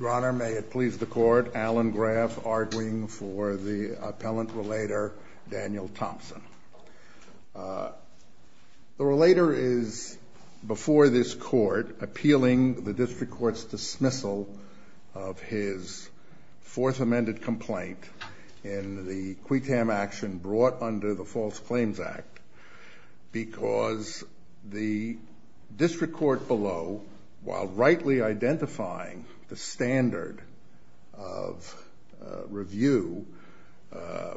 Your Honor, may it please the Court, Alan Graff arguing for the appellant relator Daniel Thompson. The relator is, before this Court, appealing the District Court's dismissal of his Fourth The District Court below, while rightly identifying the standard of review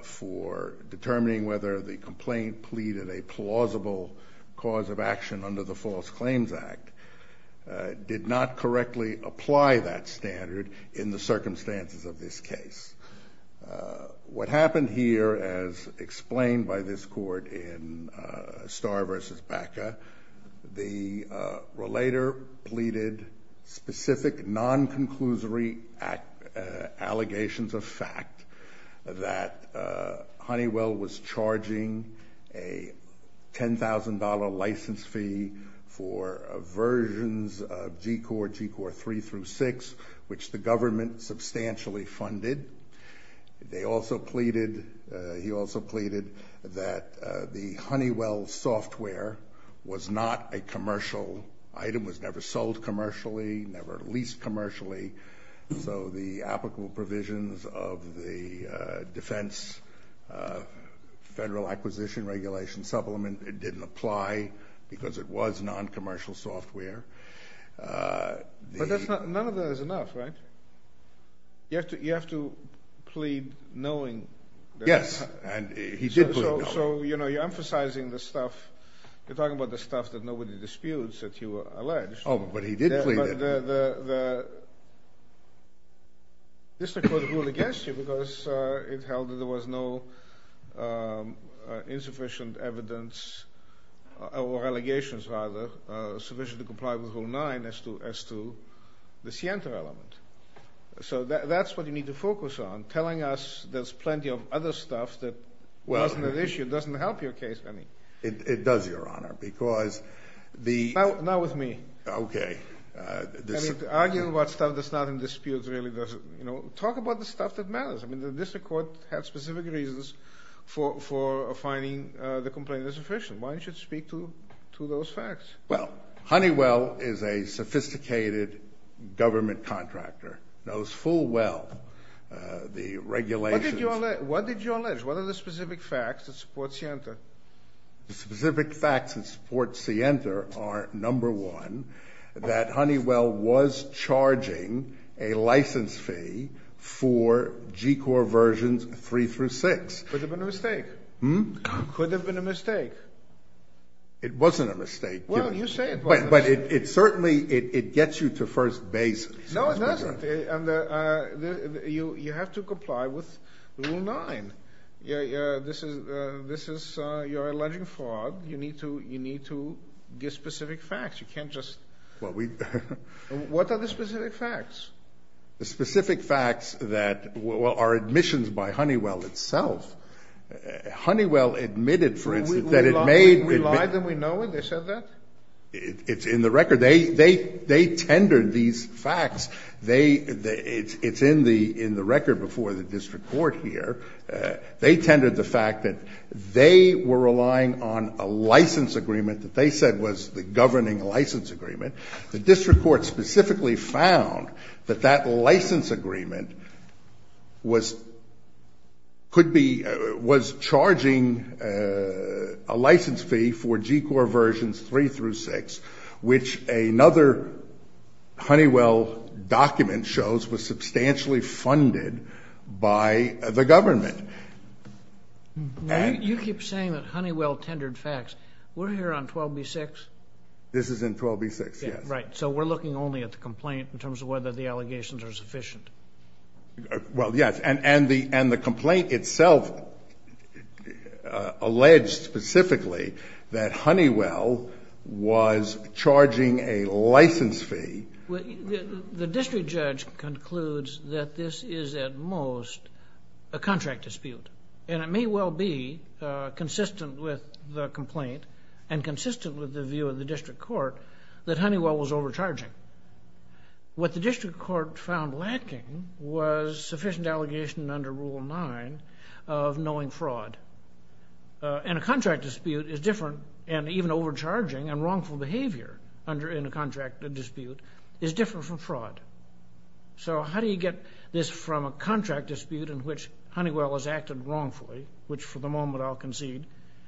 for determining whether the complaint pleaded a plausible cause of action under the False Claims Act, did not correctly apply that standard in the circumstances of this case. What happened here, as explained by this Court in Starr v. Baca, the relator pleaded specific, non-conclusory allegations of fact, that Honeywell was charging a $10,000 license fee for versions of G Corp. 3 through 6, which the government substantially funded. He also pleaded that the Honeywell software was not a commercial item, was never sold commercially, never leased commercially, so the applicable provisions of the Defense Federal Acquisition Regulation Supplement didn't apply because it was non-commercial software. But none of that is enough, right? You have to plead knowing... Yes, and he did plead knowing. So, you know, you're emphasizing the stuff, you're talking about the stuff that nobody disputes that you alleged. Oh, but he did plead it. The District Court ruled against you because it held that there was no insufficient evidence, or allegations, rather, sufficient to comply with Rule 9 as to the scienter element. So that's what you need to focus on, telling us there's plenty of other stuff that wasn't at issue doesn't help your case, honey. It does, Your Honor, because the... Now with me. Okay. Arguing about stuff that's not in dispute really doesn't... You know, talk about the stuff that matters. I mean, the District Court had specific reasons for finding the complaint insufficient. Why don't you speak to those facts? Well, Honeywell is a sophisticated government contractor, knows full well the regulations... What did you allege? What are the specific facts that support scienter? The specific facts that support scienter are, number one, that Honeywell was charging a license fee for G-Corps versions 3 through 6. Could have been a mistake. Hm? Could have been a mistake. It wasn't a mistake. Well, you say it wasn't a mistake. But it certainly, it gets you to first basis. No, it doesn't. And you have to comply with Rule 9. This is, you're alleging fraud. You need to give specific facts. You can't just... Well, we... What are the specific facts? The specific facts that are admissions by Honeywell itself. Honeywell admitted, for instance, that it made... We lied and we know it? They said that? It's in the record. They tendered these facts. They, it's in the record before the District Court here. They tendered the fact that they were relying on a license agreement that they said was the governing license agreement. The District Court specifically found that that license agreement was, could be, was charging a license fee for G-Corps versions 3 through 6, which another Honeywell document shows was substantially funded by the government. You keep saying that Honeywell tendered facts. We're here on 12B-6? This is in 12B-6, yes. Right. So we're looking only at the complaint in terms of whether the allegations are sufficient. Well, yes. And the complaint itself alleged specifically that Honeywell was charging a license fee. The district judge concludes that this is at most a contract dispute. And it may well be consistent with the complaint and consistent with the view of the District Court that Honeywell was overcharging. What the District Court found lacking was sufficient allegation under Rule 9 of knowing fraud. And a contract dispute is different, and even overcharging and wrongful behavior in a contract dispute is different from fraud. So how do you get this from a contract dispute in which Honeywell has acted wrongfully, which for the moment I'll concede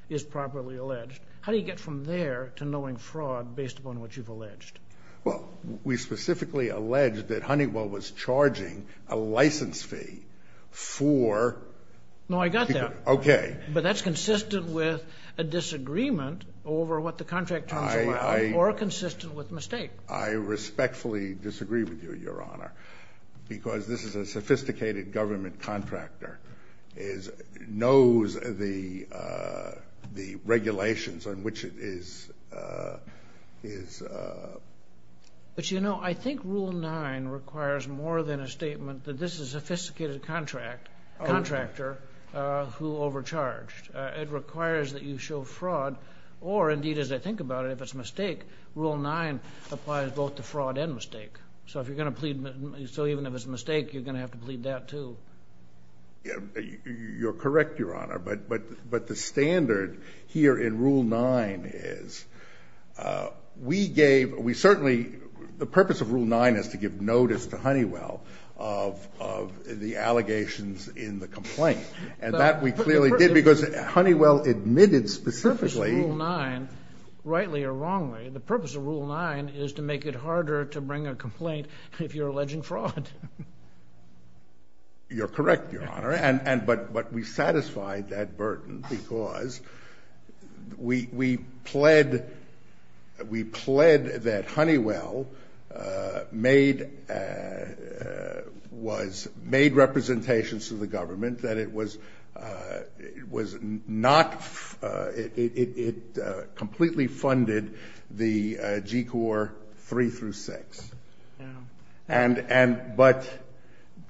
is properly alleged, how do you get from there to knowing fraud based upon what you've alleged? Well, we specifically alleged that Honeywell was charging a license fee for G-Corps. No, I got that. Okay. But that's consistent with a disagreement over what the contract terms were or consistent with mistake. I respectfully disagree with you, Your Honor, because this is a sophisticated government contractor, knows the regulations on which it is. But, you know, I think Rule 9 requires more than a statement that this is a sophisticated contractor who overcharged. It requires that you show fraud. Or, indeed, as I think about it, if it's a mistake, Rule 9 applies both to fraud and mistake. So if you're going to plead, so even if it's a mistake, you're going to have to plead that, too. You're correct, Your Honor. But the standard here in Rule 9 is we gave, we certainly, the purpose of Rule 9 is to give notice to Honeywell of the allegations in the complaint. And that we clearly did because Honeywell admitted specifically. The purpose of Rule 9, rightly or wrongly, the purpose of Rule 9 is to make it harder to bring a complaint if you're alleging fraud. You're correct, Your Honor. But we satisfied that burden because we pled that Honeywell made representations to the government that it was not, it completely funded the G Corp. 3 through 6. And, but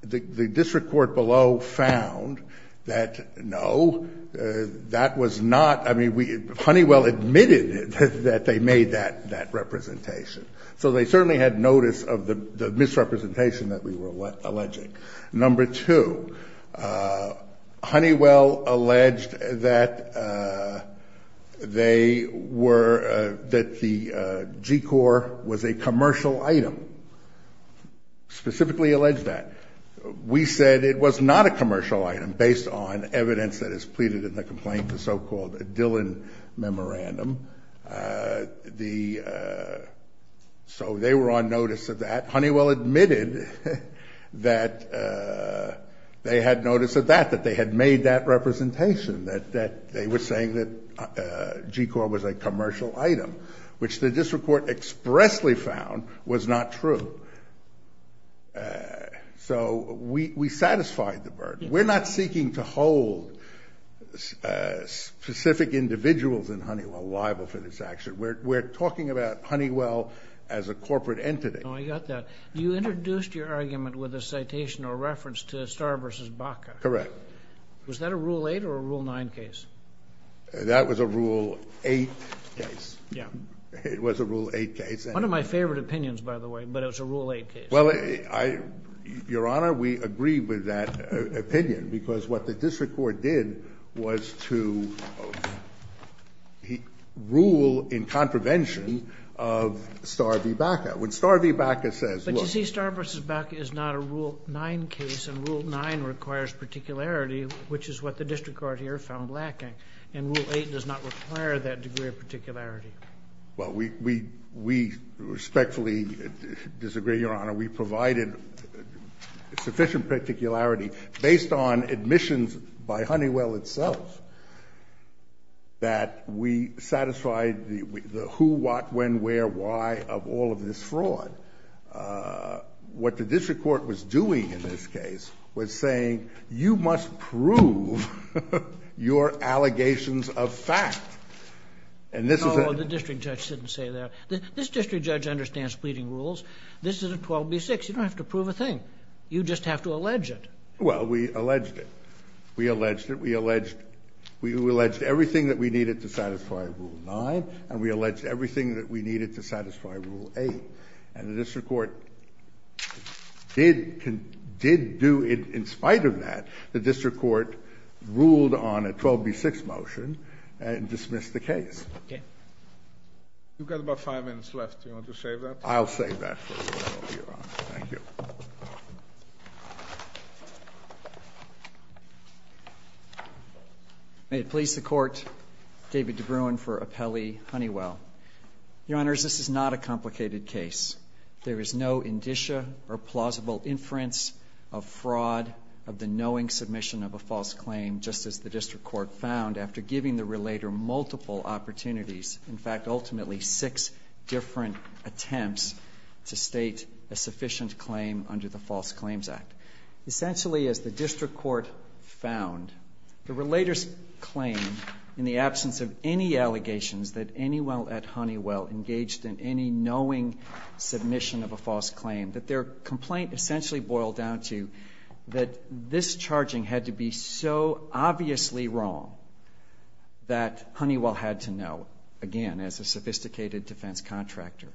the district court below found that, no, that was not, I mean, Honeywell admitted that they made that representation. So they certainly had notice of the misrepresentation that we were alleging. Number two, Honeywell alleged that they were, that the G Corp. was a commercial item, specifically alleged that. We said it was not a commercial item based on evidence that is pleaded in the complaint, the so-called Dillon Memorandum. The, so they were on notice of that. Honeywell admitted that they had notice of that, that they had made that representation, that they were saying that G Corp. was a commercial item, which the district court expressly found was not true. So we satisfied the burden. We're not seeking to hold specific individuals in Honeywell liable for this action. We're talking about Honeywell as a corporate entity. Oh, I got that. You introduced your argument with a citation or reference to Starr v. Baca. Correct. Was that a Rule 8 or a Rule 9 case? That was a Rule 8 case. Yeah. It was a Rule 8 case. One of my favorite opinions, by the way, but it was a Rule 8 case. Well, I, Your Honor, we agree with that opinion, because what the district court did was to rule in contravention of Starr v. Baca. When Starr v. Baca says, look. But you see, Starr v. Baca is not a Rule 9 case, and Rule 9 requires particularity, which is what the district court here found lacking. And Rule 8 does not require that degree of particularity. Well, we respectfully disagree, Your Honor. We provided sufficient particularity, based on admissions by Honeywell itself, that we satisfied the who, what, when, where, why of all of this fraud. What the district court was doing in this case was saying, you must prove your allegations of fact. And this is a ---- Oh, the district judge didn't say that. This district judge understands pleading rules. This is a 12b-6. You don't have to prove a thing. You just have to allege it. Well, we alleged it. We alleged it. We alleged everything that we needed to satisfy Rule 9, and we alleged everything that we needed to satisfy Rule 8. And the district court did do it in spite of that. The district court ruled on a 12b-6 motion and dismissed the case. Okay. You've got about five minutes left. Do you want to save that? I'll save that for later, Your Honor. Thank you. May it please the Court, David DeBruin for Appelli-Honeywell. Your Honors, this is not a complicated case. There is no indicia or plausible inference of fraud of the knowing submission of a false claim, just as the district court found after giving the relator multiple opportunities, in fact, ultimately six different attempts to state a sufficient claim under the False Claims Act. Essentially, as the district court found, the relator's claim, in the absence of any allegations that Anywell et Honeywell engaged in any knowing submission of a false claim, that their complaint essentially boiled down to that this charging had to be so obviously wrong that Honeywell had to know, again, as a sophisticated defense contractor.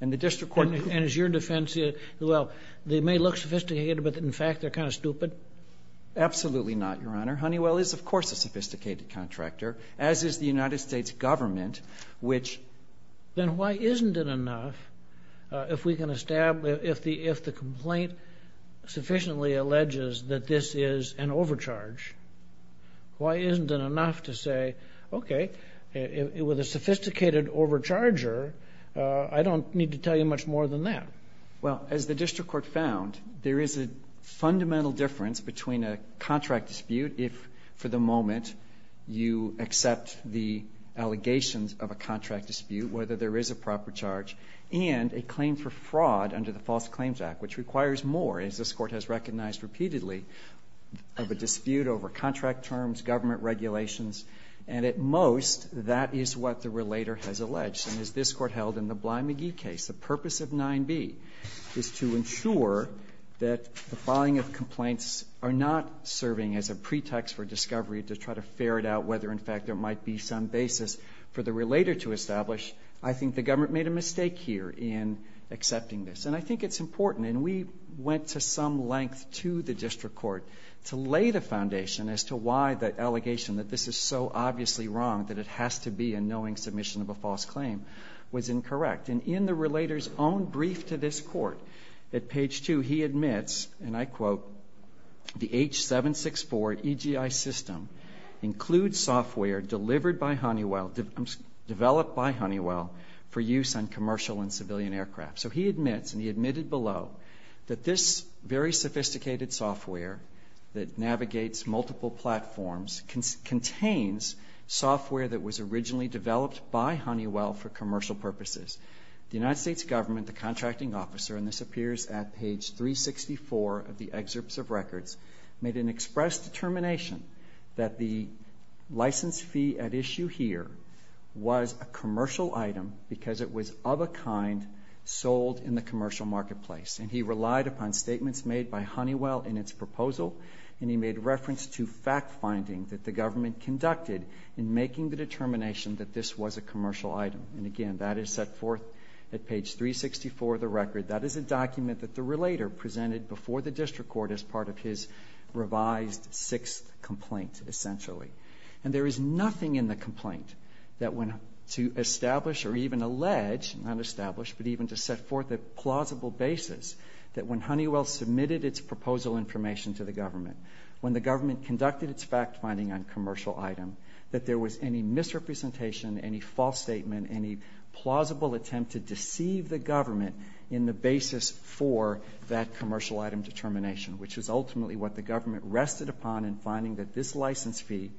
And the district court ---- And is your defense, well, they may look sophisticated, but in fact they're kind of stupid? Absolutely not, Your Honor. Honeywell is, of course, a sophisticated contractor, as is the United States government, which ---- Then why isn't it enough if we can establish, if the complaint sufficiently alleges that this is an overcharge, why isn't it enough to say, okay, with a sophisticated overcharger, I don't need to tell you much more than that? Well, as the district court found, there is a fundamental difference between a contract dispute if, for the moment, you accept the allegations of a contract dispute, whether there is a proper charge, and a claim for fraud under the False Claims Act, which requires more, as this Court has recognized repeatedly, of a dispute over contract terms, government regulations. And at most, that is what the relator has alleged. And as this Court held in the Bly-McGee case, the purpose of 9B is to ensure that the filing of complaints are not serving as a pretext for discovery to try to ferret out whether, in fact, there might be some basis for the relator to establish. I think the government made a mistake here in accepting this. And I think it's important, and we went to some length to the district court to lay the foundation as to why the allegation that this is so obviously wrong, that it has to be a knowing submission of a false claim, was incorrect. And in the relator's own brief to this Court, at page 2, he admits, and I quote, the H-764 EGI system includes software delivered by Honeywell, developed by Honeywell, for use on commercial and civilian aircraft. So he admits, and he admitted below, that this very sophisticated software that navigates multiple platforms contains software that was originally developed by Honeywell for commercial purposes. The United States government, the contracting officer, and this appears at page 364 of the excerpts of records, made an express determination that the license fee at issue here was a commercial item because it was of a kind sold in the commercial marketplace. And he relied upon statements made by Honeywell in its proposal, and he made reference to fact-finding that the government conducted in making the determination that this was a commercial item. And again, that is set forth at page 364 of the record. That is a document that the relator presented before the district court as part of his revised sixth complaint, essentially. And there is nothing in the complaint to establish or even allege, not establish, but even to set forth a plausible basis that when Honeywell submitted its proposal information to the government, when the government conducted its fact-finding on a commercial item, that there was any misrepresentation, any false statement, any plausible attempt to deceive the government in the basis for that commercial item determination, which is ultimately what the government rested upon in finding that this license fee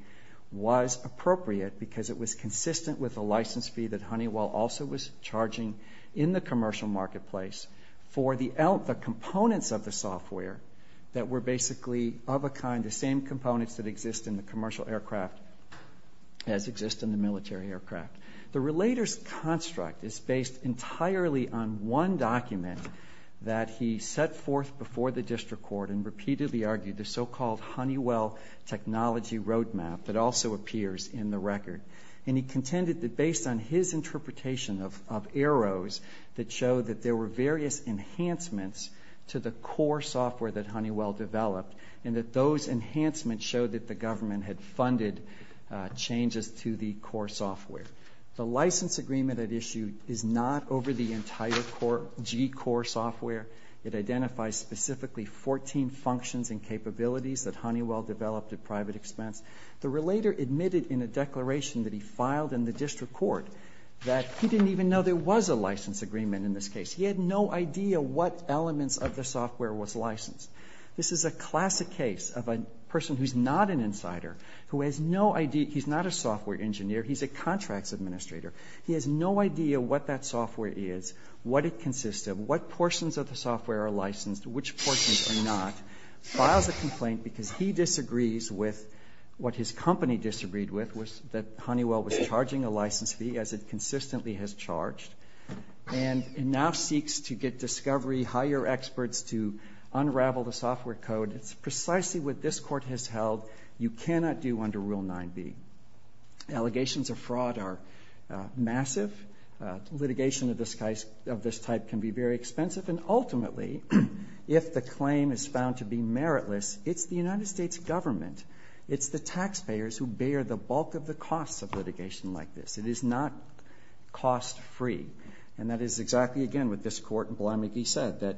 was appropriate because it was consistent with the license fee that Honeywell also was charging in the commercial marketplace for the components of the software that were basically of a kind, the same components that exist in the commercial aircraft as exist in the military aircraft. The relator's construct is based entirely on one document that he set forth before the district court and repeatedly argued the so-called Honeywell technology roadmap that also appears in the record. And he contended that based on his interpretation of EROS that showed that there were various enhancements to the core software that Honeywell developed and that those enhancements showed that the government had funded changes to the core software. The license agreement at issue is not over the entire G core software. It identifies specifically 14 functions and capabilities that Honeywell developed at private expense. The relator admitted in a declaration that he filed in the district court that he didn't even know there was a license agreement in this case. He had no idea what elements of the software was licensed. This is a classic case of a person who's not an insider, who has no idea, he's not a software engineer, he's a contracts administrator. He has no idea what that software is, what it consists of, what portions of the software are licensed, which portions are not. Files a complaint because he disagrees with what his company disagreed with, that Honeywell was charging a license fee as it consistently has charged. And now seeks to get discovery, hire experts to unravel the software code. It's precisely what this court has held you cannot do under Rule 9b. Allegations of fraud are massive. Litigation of this type can be very expensive. And ultimately, if the claim is found to be meritless, it's the United States government, it's the taxpayers who bear the bulk of the costs of litigation like this. It is not cost-free. And that is exactly, again, what this court in Bly-McGee said, that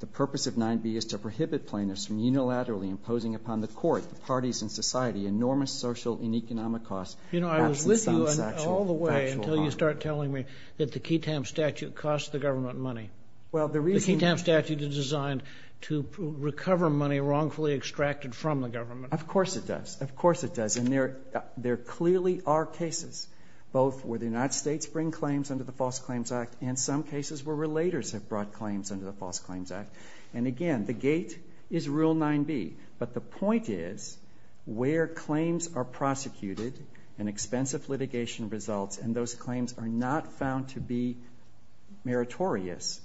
the purpose of 9b is to prohibit plaintiffs from unilaterally imposing upon the court, the parties, and society enormous social and economic costs. You know, I was with you all the way until you start telling me that the Ketam statute costs the government money. The Ketam statute is designed to recover money wrongfully extracted from the government. Of course it does. Of course it does. And there clearly are cases both where the United States bring claims under the False Claims Act and some cases where relators have brought claims under the False Claims Act. And again, the gate is Rule 9b. But the point is where claims are prosecuted and expensive litigation results and those claims are not found to be meritorious,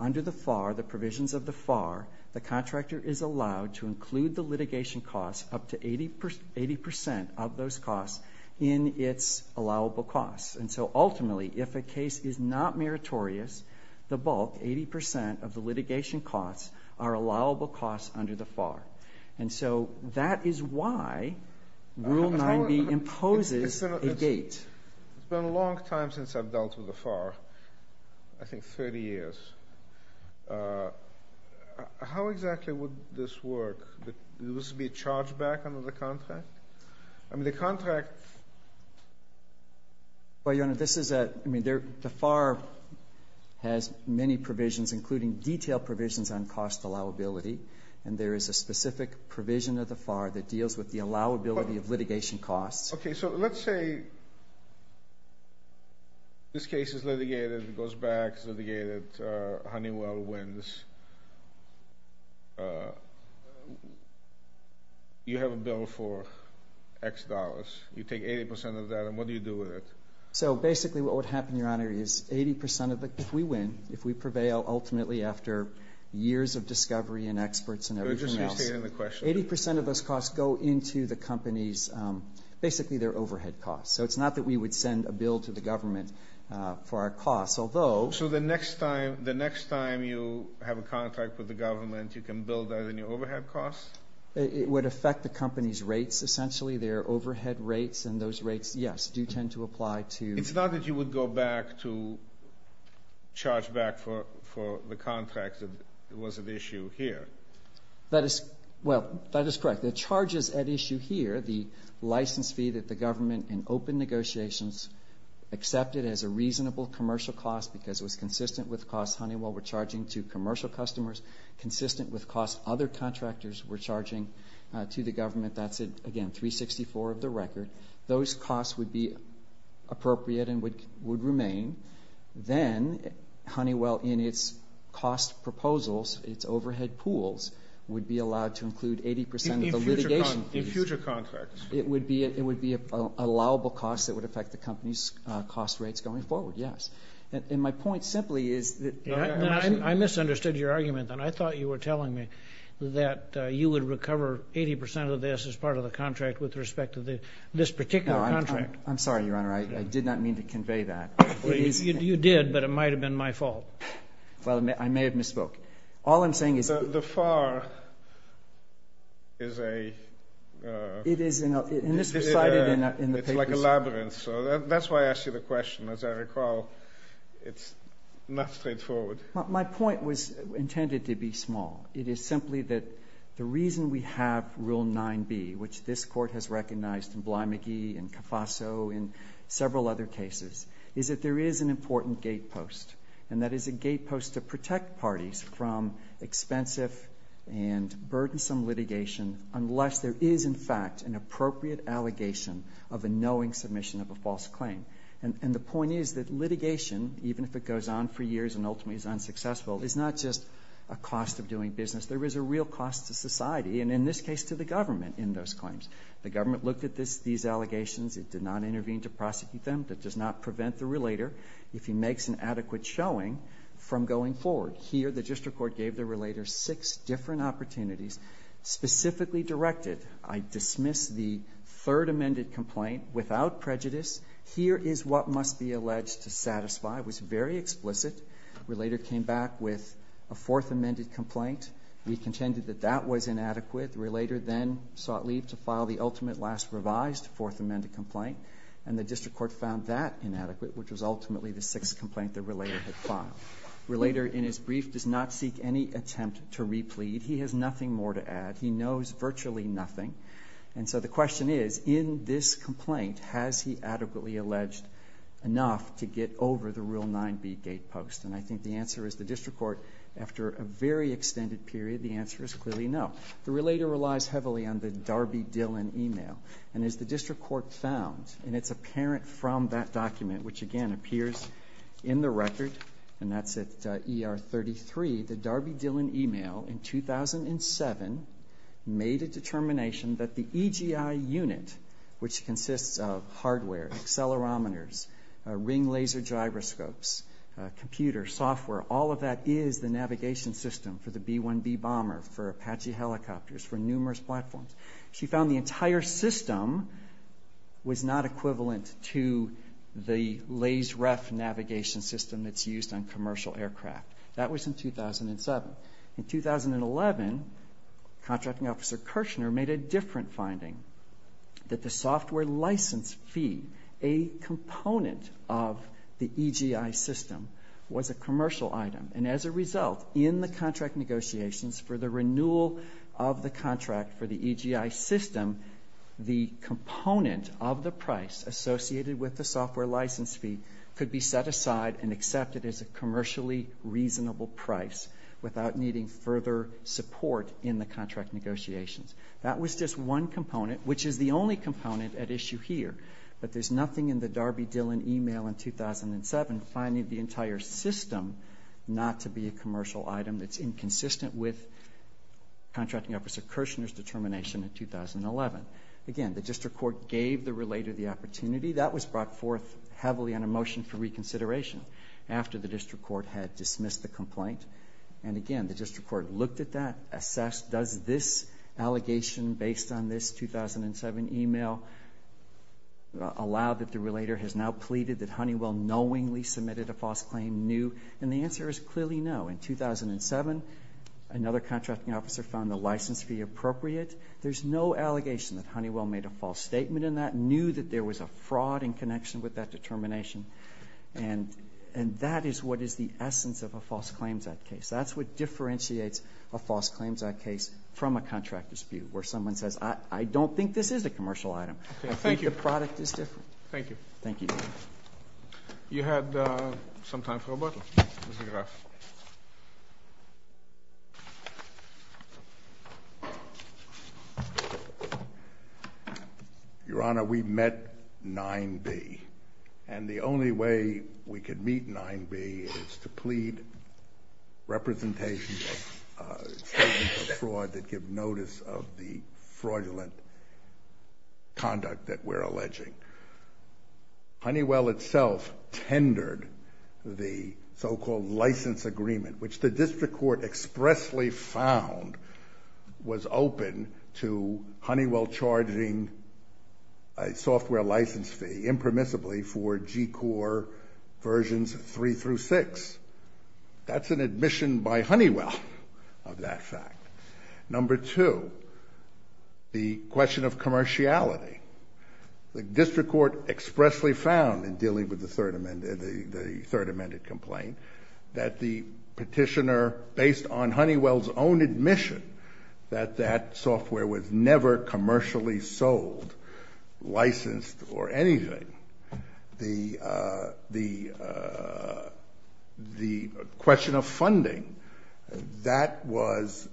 under the FAR, the provisions of the FAR, the contractor is allowed to include the litigation costs, up to 80% of those costs in its allowable costs. And so ultimately, if a case is not meritorious, the bulk, 80% of the litigation costs are allowable costs under the FAR. And so that is why Rule 9b imposes a gate. It's been a long time since I've dealt with the FAR, I think 30 years. How exactly would this work? Would this be charged back under the contract? I mean, the contract. Well, Your Honor, this is a, I mean, the FAR has many provisions, including detailed provisions on cost allowability, and there is a specific provision of the FAR that deals with the allowability of litigation costs. Okay, so let's say this case is litigated. It goes back, it's litigated, Honeywell wins. You have a bill for X dollars. You take 80% of that, and what do you do with it? So basically what would happen, Your Honor, is 80% of the, if we win, if we prevail ultimately after years of discovery and experts and everything else, 80% of those costs go into the company's, basically their overhead costs. So it's not that we would send a bill to the government for our costs, although. So the next time, the next time you have a contract with the government, you can bill that in your overhead costs? It would affect the company's rates, essentially, their overhead rates, and those rates, yes, do tend to apply to. It's not that you would go back to charge back for the contract that was at issue here. That is, well, that is correct. The charges at issue here, the license fee that the government in open negotiations accepted as a reasonable commercial cost because it was consistent with costs Honeywell were charging to commercial customers, consistent with costs other contractors were charging to the government. That's, again, 364 of the record. Those costs would be appropriate and would remain. Then Honeywell, in its cost proposals, its overhead pools would be allowed to include 80% of the litigation fees. In future contracts. It would be allowable costs that would affect the company's cost rates going forward, yes. And my point simply is that you have to. I misunderstood your argument, then. I thought you were telling me that you would recover 80% of this as part of the contract with respect to this particular contract. I'm sorry, Your Honor. I did not mean to convey that. You did, but it might have been my fault. Well, I may have misspoke. All I'm saying is. The FAR is a. It is, and this was cited in the papers. It's like a labyrinth, so that's why I asked you the question. As I recall, it's not straightforward. My point was intended to be small. It is simply that the reason we have Rule 9b, which this court has recognized in Bly-McGee and Caffasso and several other cases, is that there is an important gate post, and that is a gate post to protect parties from expensive and burdensome litigation unless there is, in fact, an appropriate allegation of a knowing submission of a false claim. And the point is that litigation, even if it goes on for years and ultimately is unsuccessful, is not just a cost of doing business. There is a real cost to society and, in this case, to the government in those claims. The government looked at these allegations. It did not intervene to prosecute them. That does not prevent the relator, if he makes an adequate showing, from going forward. Here, the district court gave the relator six different opportunities, specifically directed, I dismiss the third amended complaint without prejudice. Here is what must be alleged to satisfy. It was very explicit. The relator came back with a fourth amended complaint. We contended that that was inadequate. The relator then sought leave to file the ultimate last revised fourth amended complaint, and the district court found that inadequate, which was ultimately the sixth complaint the relator had filed. The relator, in his brief, does not seek any attempt to replete. He has nothing more to add. He knows virtually nothing. And so the question is, in this complaint, has he adequately alleged enough to get over the Rule 9b gate post? And I think the answer is the district court, after a very extended period, the answer The relator relies heavily on the Darby Dillon e-mail. And as the district court found, and it's apparent from that document, which, again, appears in the record, and that's at ER 33, the Darby Dillon e-mail, in 2007, made a determination that the EGI unit, which consists of hardware, accelerometers, ring laser gyroscopes, computer software, all of that is the navigation system for the B-1B bomber, for Apache helicopters, for numerous platforms. She found the entire system was not equivalent to the laser ref navigation system that's used on commercial aircraft. That was in 2007. In 2011, Contracting Officer Kirshner made a different finding, that the software license fee, a component of the EGI system, was a commercial item. And as a result, in the contract negotiations for the renewal of the contract for the EGI system, the component of the price associated with the software license fee could be set aside and accepted as a commercially reasonable price without needing further support in the contract negotiations. That was just one component, which is the only component at issue here. But there's nothing in the Darby Dillon e-mail in 2007, finding the entire system not to be a commercial item that's inconsistent with Contracting Officer Kirshner's determination in 2011. Again, the District Court gave the relator the opportunity. That was brought forth heavily on a motion for reconsideration after the District Court had dismissed the complaint. And again, the District Court looked at that, assessed, does this allegation based on this 2007 e-mail allow that the relator has now pleaded that Honeywell knowingly submitted a false claim, knew? And the answer is clearly no. In 2007, another Contracting Officer found the license fee appropriate. There's no allegation that Honeywell made a false statement in that, knew that there was a fraud in connection with that determination. And that is what is the essence of a false claims act case. That's what differentiates a false claims act case from a contract dispute, where someone says, I don't think this is a commercial item. I think the product is different. Thank you. Thank you. You had some time for a bottle. Your Honor, we met 9B. And the only way we could meet 9B is to plead representation of fraud that give notice of the fraudulent conduct that we're alleging. Honeywell itself tendered the so-called license agreement, which the District Court expressly found was open to Honeywell charging a software license fee impermissibly for G Corp versions three through six. That's an admission by Honeywell of that fact. Number two, the question of commerciality. The District Court expressly found in dealing with the third amended complaint that the petitioner, based on Honeywell's own admission that that software was never commercially sold, licensed, or anything, the question of funding, that was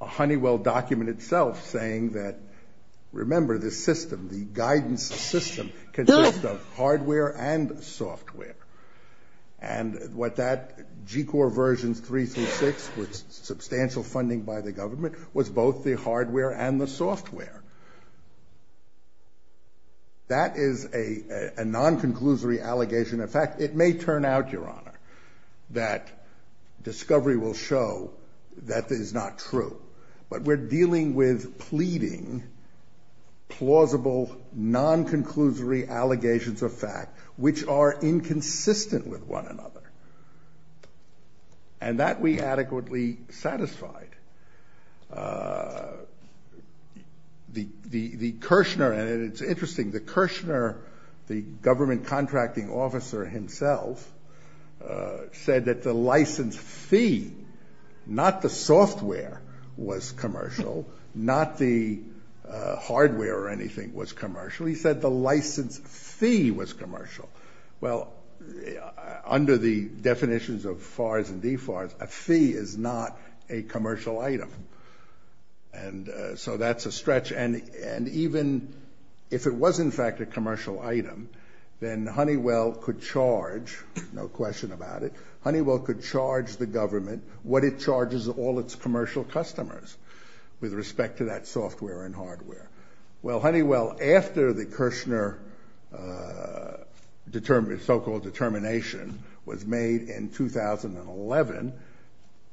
a Honeywell document itself saying that, remember this system, the guidance system consists of hardware and software. And what that G Corp versions three through six, with substantial funding by the government, was both the hardware and the software. That is a non-conclusory allegation. In fact, it may turn out, Your Honor, that discovery will show that is not true. But we're dealing with pleading plausible non-conclusory allegations of fact which are inconsistent with one another. And that we adequately satisfied. The Kirshner, and it's interesting, the Kirshner, the government contracting officer himself, said that the license fee, not the software, was commercial, not the hardware or anything was commercial. He said the license fee was commercial. Well, under the definitions of FARs and DFARs, a fee is not a commercial item. And so that's a stretch, and even if it was in fact a commercial item, then Honeywell could charge, no question about it, Honeywell could charge the government what it charges all its commercial customers with respect to that software and hardware. Well, Honeywell, after the Kirshner so-called determination was made in 2011,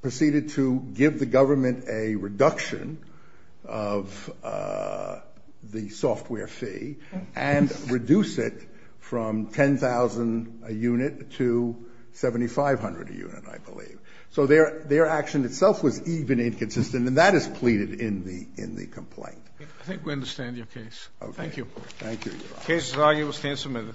proceeded to give the government a reduction of the software fee and reduce it from 10,000 a unit to 7,500 a unit, I believe. So their action itself was even inconsistent, and that is pleaded in the complaint. I think we understand your case. Okay. Thank you. Thank you, Your Honor. The case is argued. We'll stand submitted.